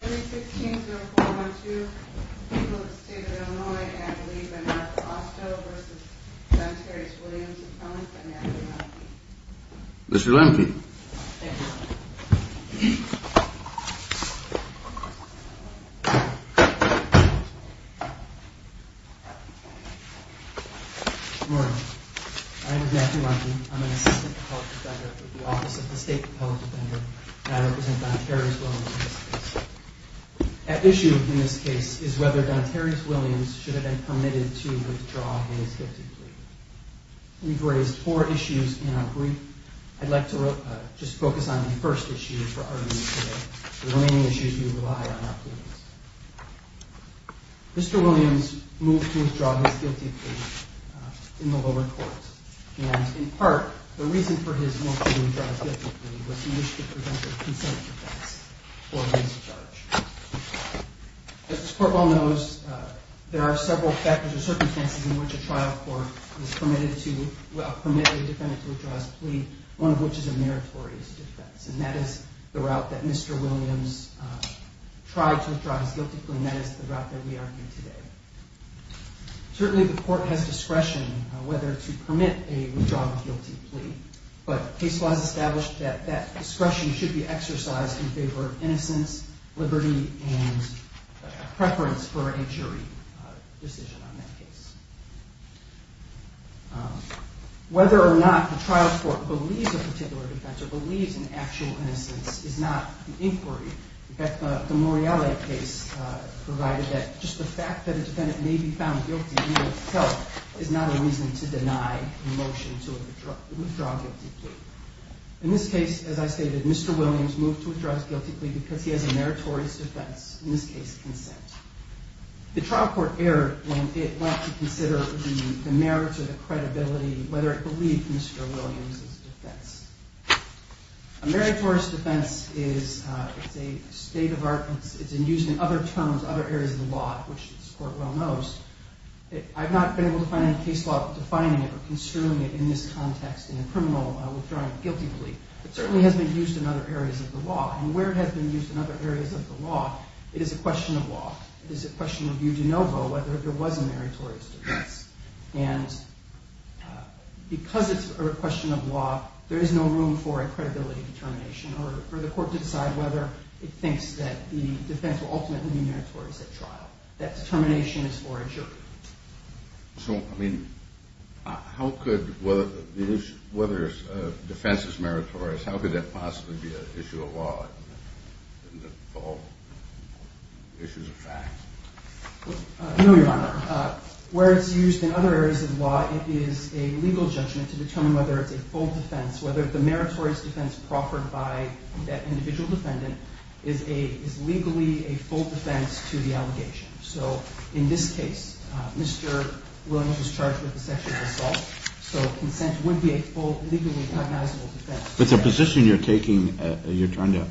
3-16-0-4-1-2 People of the State of Illinois and I believe by Martha Austo v. John Terry's Williams & Collins by Matthew Lemke Mr. Lemke Good morning. My name is Matthew Lemke. I'm an assistant public defender for the Office of the State Public Defender. And I represent John Terry's Williams in this case. At issue in this case is whether John Terry's Williams should have been permitted to withdraw his guilty plea. We've raised four issues in our brief. I'd like to just focus on the first issue for our meeting today. The remaining issues will rely on our pleadings. Mr. Williams moved to withdraw his guilty plea in the lower court. And, in part, the reason for his move to withdraw his guilty plea was he wished to present a consent defense for his charge. As this court well knows, there are several factors or circumstances in which a trial court is permitted to, well, permitted a defendant to withdraw his plea, one of which is a meritorious defense. And that is the route that Mr. Williams tried to withdraw his guilty plea and that is the route that we are in today. Certainly, the court has discretion whether to permit a withdrawal of a guilty plea. But case law has established that that discretion should be exercised in favor of innocence, liberty, and preference for a jury decision on that case. Whether or not the trial court believes a particular defense or believes in actual innocence is not the inquiry. In fact, the Morreale case provided that just the fact that a defendant may be found guilty in itself is not a reason to deny a motion to withdraw a guilty plea. In this case, as I stated, Mr. Williams moved to withdraw his guilty plea because he has a meritorious defense, in this case, consent. The trial court erred when it went to consider the merits or the credibility, whether it believed Mr. Williams' defense. A meritorious defense is a state of art. It's in use in other terms, other areas of the law, which this court well knows. I've not been able to find any case law defining it or construing it in this context in a criminal withdrawing a guilty plea. It certainly has been used in other areas of the law. And where it has been used in other areas of the law, it is a question of law. It is a question of you de novo whether there was a meritorious defense. And because it's a question of law, there is no room for a credibility determination or for the court to decide whether it thinks that the defense will ultimately be meritorious at trial. That determination is for a jury. So, I mean, how could whether defense is meritorious, how could that possibly be an issue of law in all issues of fact? I know you're on there. Where it's used in other areas of law, it is a legal judgment to determine whether it's a full defense, whether the meritorious defense proffered by that individual defendant is legally a full defense to the allegation. So, in this case, Mr. Williams was charged with a sexual assault, so consent would be a full, legally cognizable defense. But the position you're taking, you're trying to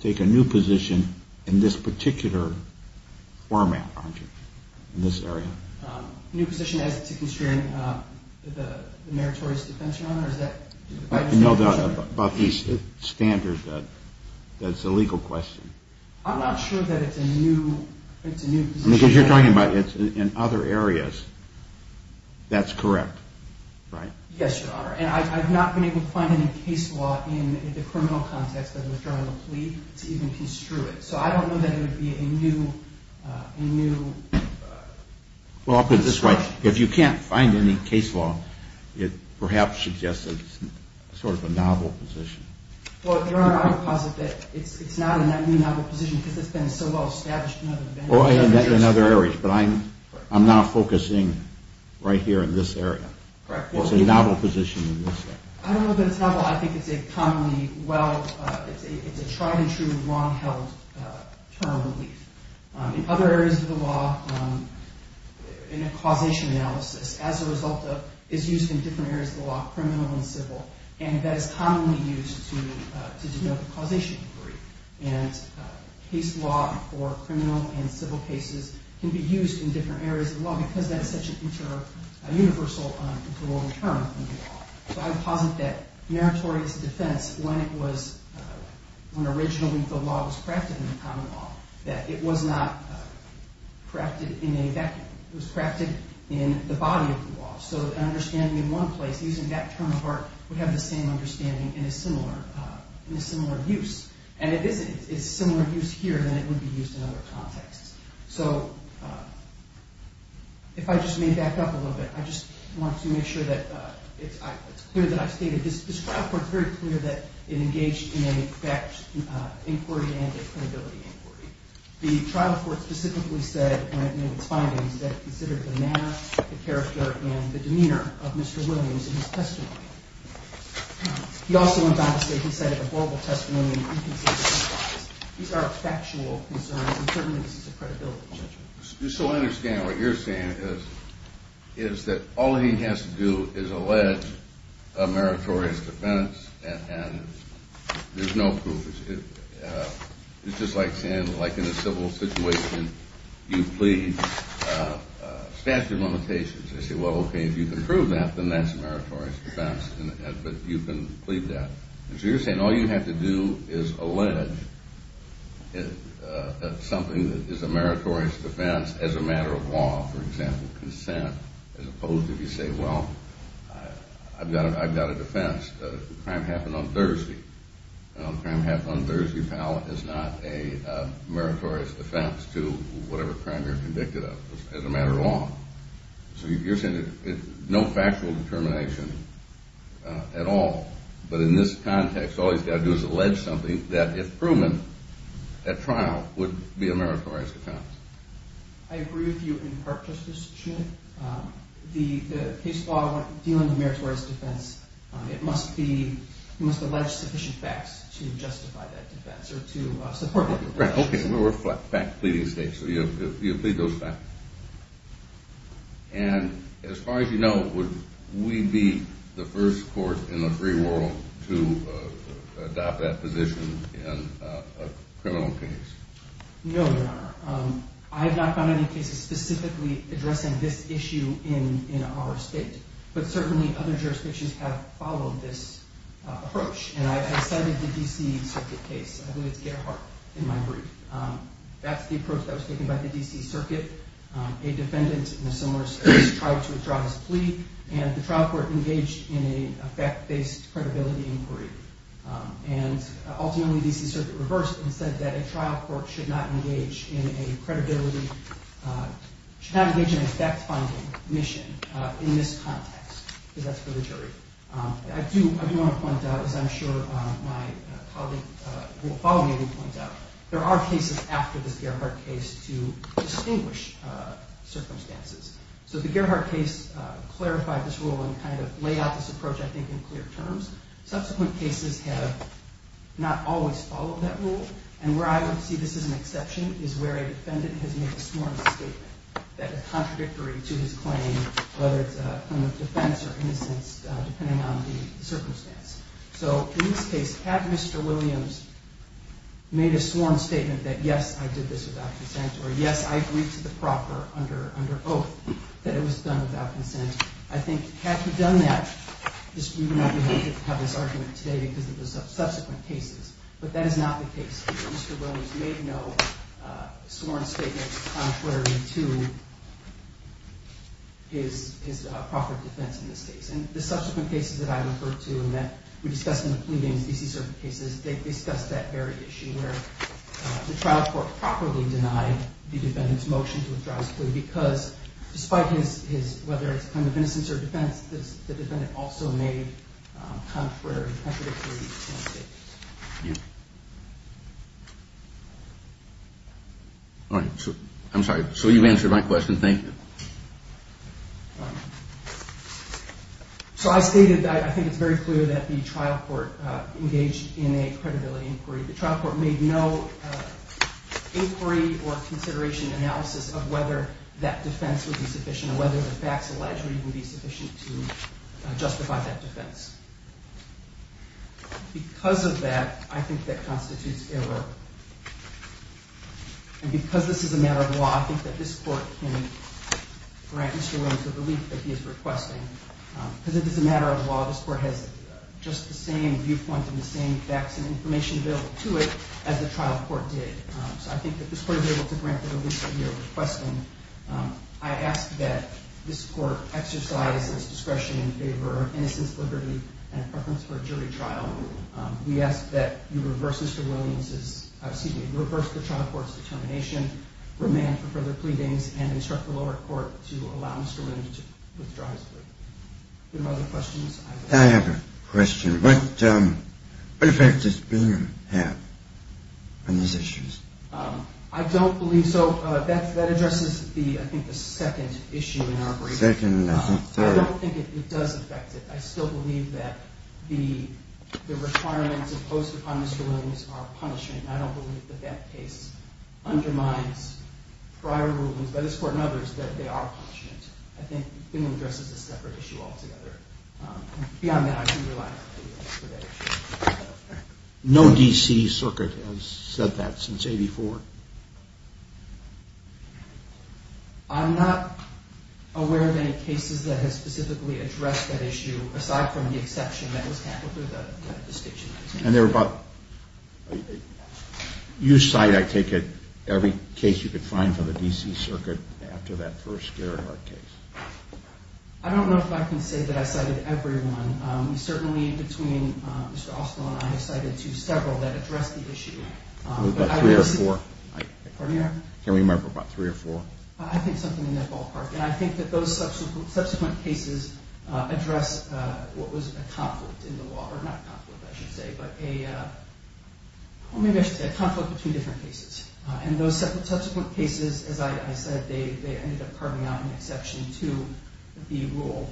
take a new position in this particular format, aren't you, in this area? A new position as to constrain the meritorious defense, Your Honor? I know about these standards that it's a legal question. I'm not sure that it's a new position. Because you're talking about it's in other areas. That's correct, right? Yes, Your Honor. And I've not been able to find any case law in the criminal context of withdrawing the plea to even construe it. So, I don't know that it would be a new... Well, I'll put it this way. If you can't find any case law, it perhaps suggests that it's sort of a novel position. Well, if there are, I would posit that it's not a new novel position because it's been so well established in other areas. In other areas. But I'm not focusing right here in this area. It's a novel position in this area. I don't know that it's novel. I think it's a commonly, well, it's a tried and true, long-held term relief. In other areas of the law, in a causation analysis, as a result of, is used in different areas of the law, criminal and civil. And that is commonly used to develop a causation degree. And case law for criminal and civil cases can be used in different areas of the law because that's such a universal term in the law. So, I would posit that meritorious defense, when it was, when originally the law was crafted in the common law, that it was not crafted in a vacuum. It was crafted in the body of the law. So, an understanding in one place, using that term of art, would have the same understanding in a similar use. And it is a similar use here than it would be used in other contexts. So, if I just may back up a little bit, I just want to make sure that it's clear that I've stated, this trial court is very clear that it engaged in a fact inquiry and a credibility inquiry. The trial court specifically said, when it made its findings, that it considered the manner, the character, and the demeanor of Mr. Williams in his testimony. He also went on to say he cited a verbal testimony and inconsistent replies. These are factual concerns, and certainly this is a credibility judgment. So, I understand what you're saying is that all he has to do is allege a meritorious defense, and there's no proof. It's just like saying, like in a civil situation, you plead statute of limitations. They say, well, okay, if you can prove that, then that's a meritorious defense, but you can plead that. So, you're saying all you have to do is allege something that is a meritorious defense as a matter of law, for example, consent, as opposed to if you say, well, I've got a defense. The crime happened on Thursday. The crime happened on Thursday, pal, is not a meritorious defense to whatever crime you're convicted of as a matter of law. So, you're saying no factual determination at all. But in this context, all he's got to do is allege something that, if proven at trial, would be a meritorious defense. I agree with you in part, Justice Schmitt. The case law dealing with meritorious defense, it must be, you must allege sufficient facts to justify that defense or to support that defense. Right, okay. We're a fact-pleading state, so you'll plead those facts. And as far as you know, would we be the first court in the free world to adopt that position in a criminal case? No, Your Honor. I have not found any cases specifically addressing this issue in our state, but certainly other jurisdictions have followed this approach. And I cited the D.C. Circuit case. I believe it's Gerhardt in my brief. That's the approach that was taken by the D.C. Circuit. A defendant in a similar case tried to withdraw his plea, and the trial court engaged in a fact-based credibility inquiry. And ultimately, the D.C. Circuit reversed and said that a trial court should not engage in a credibility, should not engage in a fact-finding mission in this context, because that's for the jury. I do want to point out, as I'm sure my colleague who will follow me will point out, there are cases after this Gerhardt case to distinguish circumstances. So the Gerhardt case clarified this rule and kind of laid out this approach, I think, in clear terms. Subsequent cases have not always followed that rule. And where I would see this as an exception is where a defendant has made a sworn statement that is contradictory to his claim, whether it's a claim of defense or innocence, depending on the circumstance. So in this case, had Mr. Williams made a sworn statement that, yes, I did this without consent, or, yes, I agreed to the proper under oath that it was done without consent, I think had he done that, we would not be able to have this argument today because of the subsequent cases. But that is not the case. Mr. Williams made no sworn statement contrary to his proper defense in this case. And the subsequent cases that I've referred to and that we discussed in the pleadings, DC-certified cases, they discuss that very issue where the trial court properly denied the defendant's motion to withdraw his plea because, despite his, whether it's a claim of innocence or defense, the defendant also made contradictory sworn statements. All right. I'm sorry. So you answered my question. Thank you. So I stated that I think it's very clear that the trial court engaged in a credibility inquiry. The trial court made no inquiry or consideration analysis of whether that defense would be sufficient or whether the facts alleged would even be sufficient to justify that defense. Because of that, I think that constitutes error. And because this is a matter of law, I think that this court can grant Mr. Williams the relief that he is requesting. Because it is a matter of law, this court has just the same viewpoint and the same facts and information available to it as the trial court did. So I think that this court is able to grant the relief that he is requesting. I ask that this court exercise its discretion in favor of innocence, liberty, and preference for a jury trial. We ask that you reverse the trial court's determination, remand for further pleadings, and instruct the lower court to allow Mr. Williams to withdraw his plea. Any other questions? I have a question. What effect does Bingham have on these issues? I don't believe so. That addresses, I think, the second issue in our brief. Second, I think third. I don't think it does affect it. I still believe that the requirements imposed upon Mr. Williams are a punishment. I don't believe that that case undermines prior rulings by this court and others that they are punishments. I think Bingham addresses a separate issue altogether. Beyond that, I can't rely on it for that issue. No D.C. circuit has said that since 84. I'm not aware of any cases that have specifically addressed that issue, aside from the exception that was handled through the station. You cite, I take it, every case you could find from the D.C. circuit after that first Gerhardt case. I don't know if I can say that I cited everyone. Certainly between Mr. Oswald and I, I have cited several that address the issue. About three or four. Pardon me, Your Honor? Can we remember about three or four? I think something in that ballpark. And I think that those subsequent cases address what was a conflict in the law, or not a conflict, I should say, but a conflict between different cases. And those subsequent cases, as I said, they ended up carving out an exception to the rule,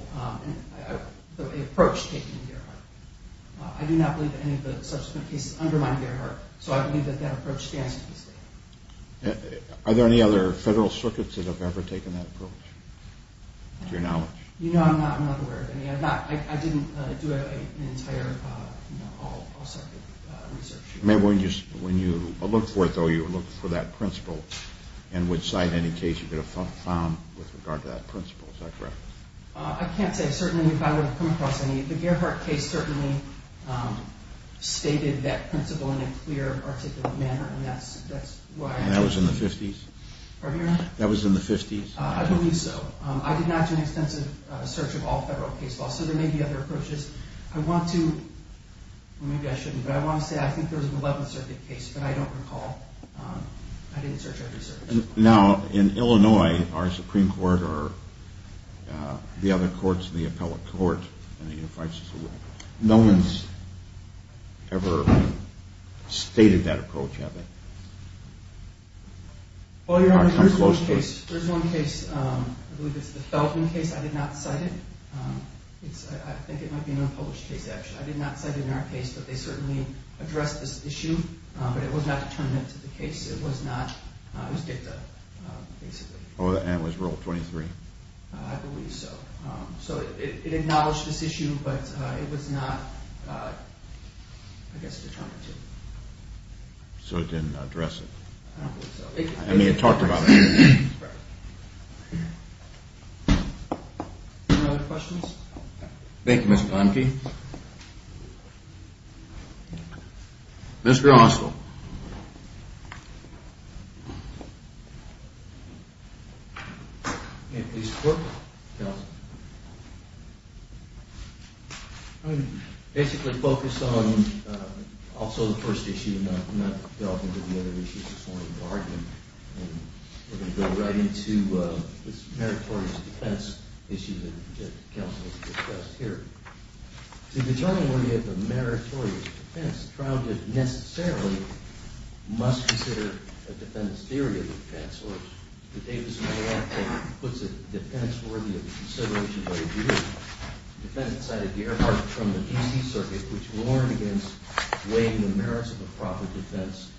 the approach taken in Gerhardt. I do not believe that any of the subsequent cases undermined Gerhardt, so I believe that that approach stands to this day. Are there any other federal circuits that have ever taken that approach, to your knowledge? You know, I'm not aware of any. I didn't do an entire all-circuit research. Maybe when you look for it, though, you look for that principle, and would cite any case you could have found with regard to that principle. Is that correct? I can't say, certainly, if I would have come across any. The Gerhardt case certainly stated that principle in a clear, articulate manner, and that's why I think... And that was in the 50s? Pardon me, Your Honor? That was in the 50s? I believe so. I did not do an extensive search of all federal case laws, so there may be other approaches. I want to, or maybe I shouldn't, but I want to say I think there was an 11th Circuit case, but I don't recall. I didn't search or research. Now, in Illinois, our Supreme Court or the other courts, the appellate court, no one's ever stated that approach, have they? Well, Your Honor, there's one case, I believe it's the Felton case, I did not cite it. I think it might be an unpublished case, actually. I did not cite it in our case, but they certainly addressed this issue, but it was not determined to the case. It was not, it was dicta, basically. Oh, and it was Rule 23? I believe so. So it acknowledged this issue, but it was not, I guess, determined to. So it didn't address it? I don't believe so. I mean, it talked about it. Right. Any other questions? Thank you, Mr. Conkey. Mr. Oswald. I'm going to basically focus on also the first issue and not delve into the other issues this morning, the argument. And we're going to go right into this meritorious defense issue that counsel has discussed here. To determine whether you have a meritorious defense, the trial did not necessarily must consider a defendant's theory of defense. The Davis-Mallett case puts a defense worthy of consideration by a jury. The defendant cited the airport from the DC circuit, which warned against weighing the merits of a proper defense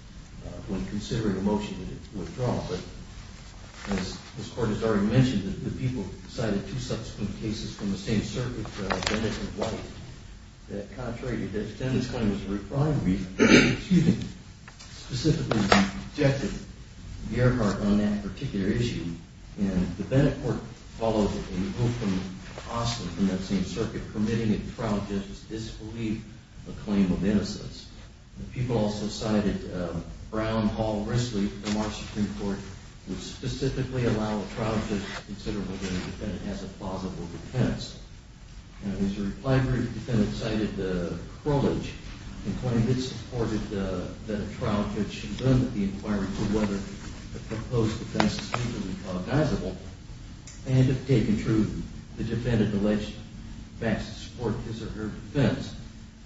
when considering a motion to withdraw. But as this Court has already mentioned, the people cited two subsequent cases from the same circuit, Bennett v. White, that contrary to the defendant's claim as a reclined reason, excuse me, specifically objected to the airport on that particular issue. And the Bennett court followed a move from Austin in that same circuit, permitting a trial justice to disbelieve a claim of innocence. The people also cited Brown, Hall, and Risley from our Supreme Court, who specifically allow a trial judge to consider whether a defendant has a plausible defense. And as a reply group, the defendant cited Crowledge and claimed it supported that a trial judge should learn at the inquiry to whether a proposed defense is reasonably plausible and, if taken true, the defendant alleged facts to support his or her defense.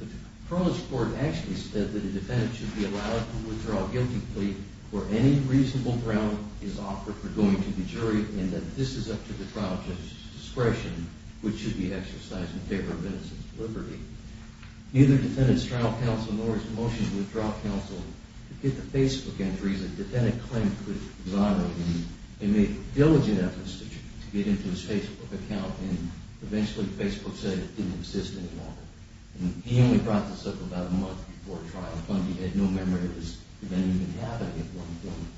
The Crowledge court actually said that a defendant should be allowed to withdraw a guilty plea for any reasonable ground is offered for going to the jury and that this is up to the trial judge's discretion, which should be exercised in favor of innocence and liberty. Neither the defendant's trial counsel nor his motion to withdraw counsel did the Facebook entries that the defendant claimed could violate him. He made diligent efforts to get into his Facebook account and eventually Facebook said it didn't exist anymore. And he only brought this up about a month before trial when he had no memory of this event even happening at one point.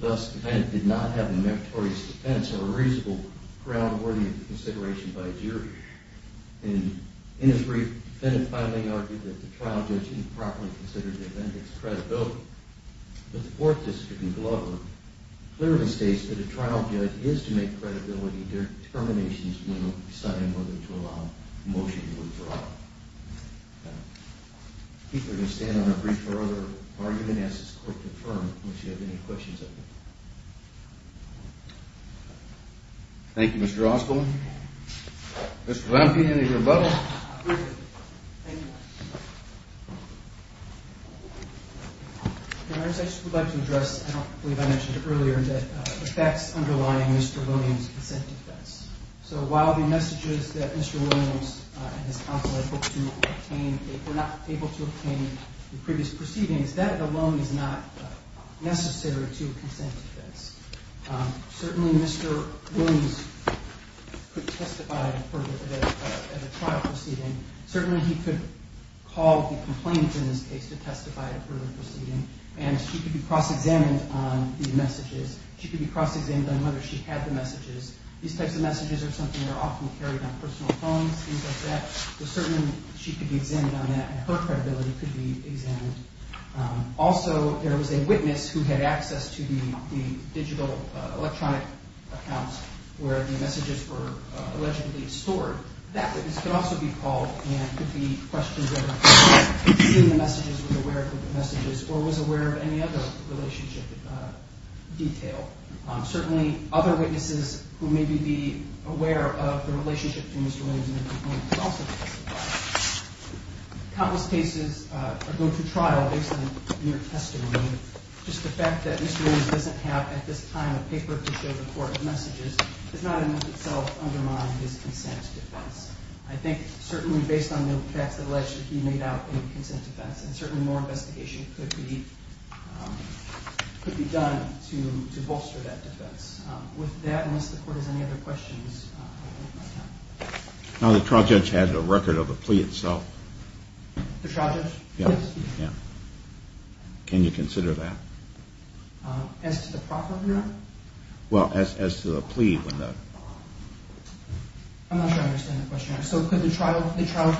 Thus, the defendant did not have a meritorious defense or a reasonable ground worthy of consideration by a jury. And in his brief, the defendant finally argued that the trial judge improperly considered the defendant's credibility. But the Fourth District in Glover clearly states that a trial judge is to make credibility determinations when deciding whether to allow a motion to withdraw. I think we're going to stand on a brief for other argument as this court confirmed. I don't know if you have any questions. Thank you, Mr. Osborne. Mr. Lampion, any rebuttals? I just would like to address, I don't believe I mentioned it earlier, the facts underlying Mr. Williams' consent defense. So while the messages that Mr. Williams and his counsel were not able to obtain in previous proceedings, that alone is not necessary to a consent defense. Certainly, Mr. Williams could testify at a trial proceeding. Certainly, he could call the complainant in this case to testify at a further proceeding. And she could be cross-examined on the messages. She could be cross-examined on whether she had the messages. These types of messages are something that are often carried on personal phones, things like that. So certainly, she could be examined on that, and her credibility could be examined. Also, there was a witness who had access to the digital electronic accounts where the messages were allegedly stored. That witness could also be called, and it could be questions of seeing the messages, was aware of the messages, or was aware of any other relationship detail. Certainly, other witnesses who may be aware of the relationship to Mr. Williams and the complainant could also testify. Countless cases go to trial based on mere testimony. Just the fact that Mr. Williams doesn't have, at this time, a paper to show the court his messages does not in itself undermine his consent defense. I think certainly based on the facts that allegedly he made out in the consent defense, certainly more investigation could be done to bolster that defense. With that, unless the Court has any other questions, I will end my time. Now, the trial judge has a record of the plea itself. The trial judge? Yes. Can you consider that? As to the proclamation? Well, as to the plea. I'm not sure I understand the question. So could the trial judge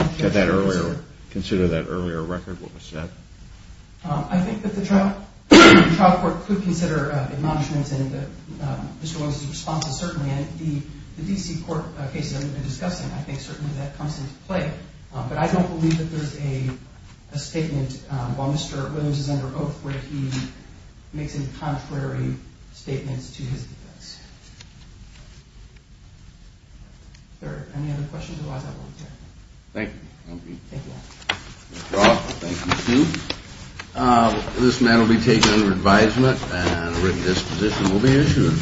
consider that earlier record, what was said? I think that the trial court could consider admonishments in Mr. Williams' response, and certainly in the D.C. court cases that we've been discussing, I think certainly that comes into play. But I don't believe that there's a statement while Mr. Williams is under oath where he makes any contrary statements to his defense. Are there any other questions? Otherwise, I will end here. Thank you. Thank you all. Thank you all. Thank you, too. This matter will be taken under advisement, and a written disposition will be issued.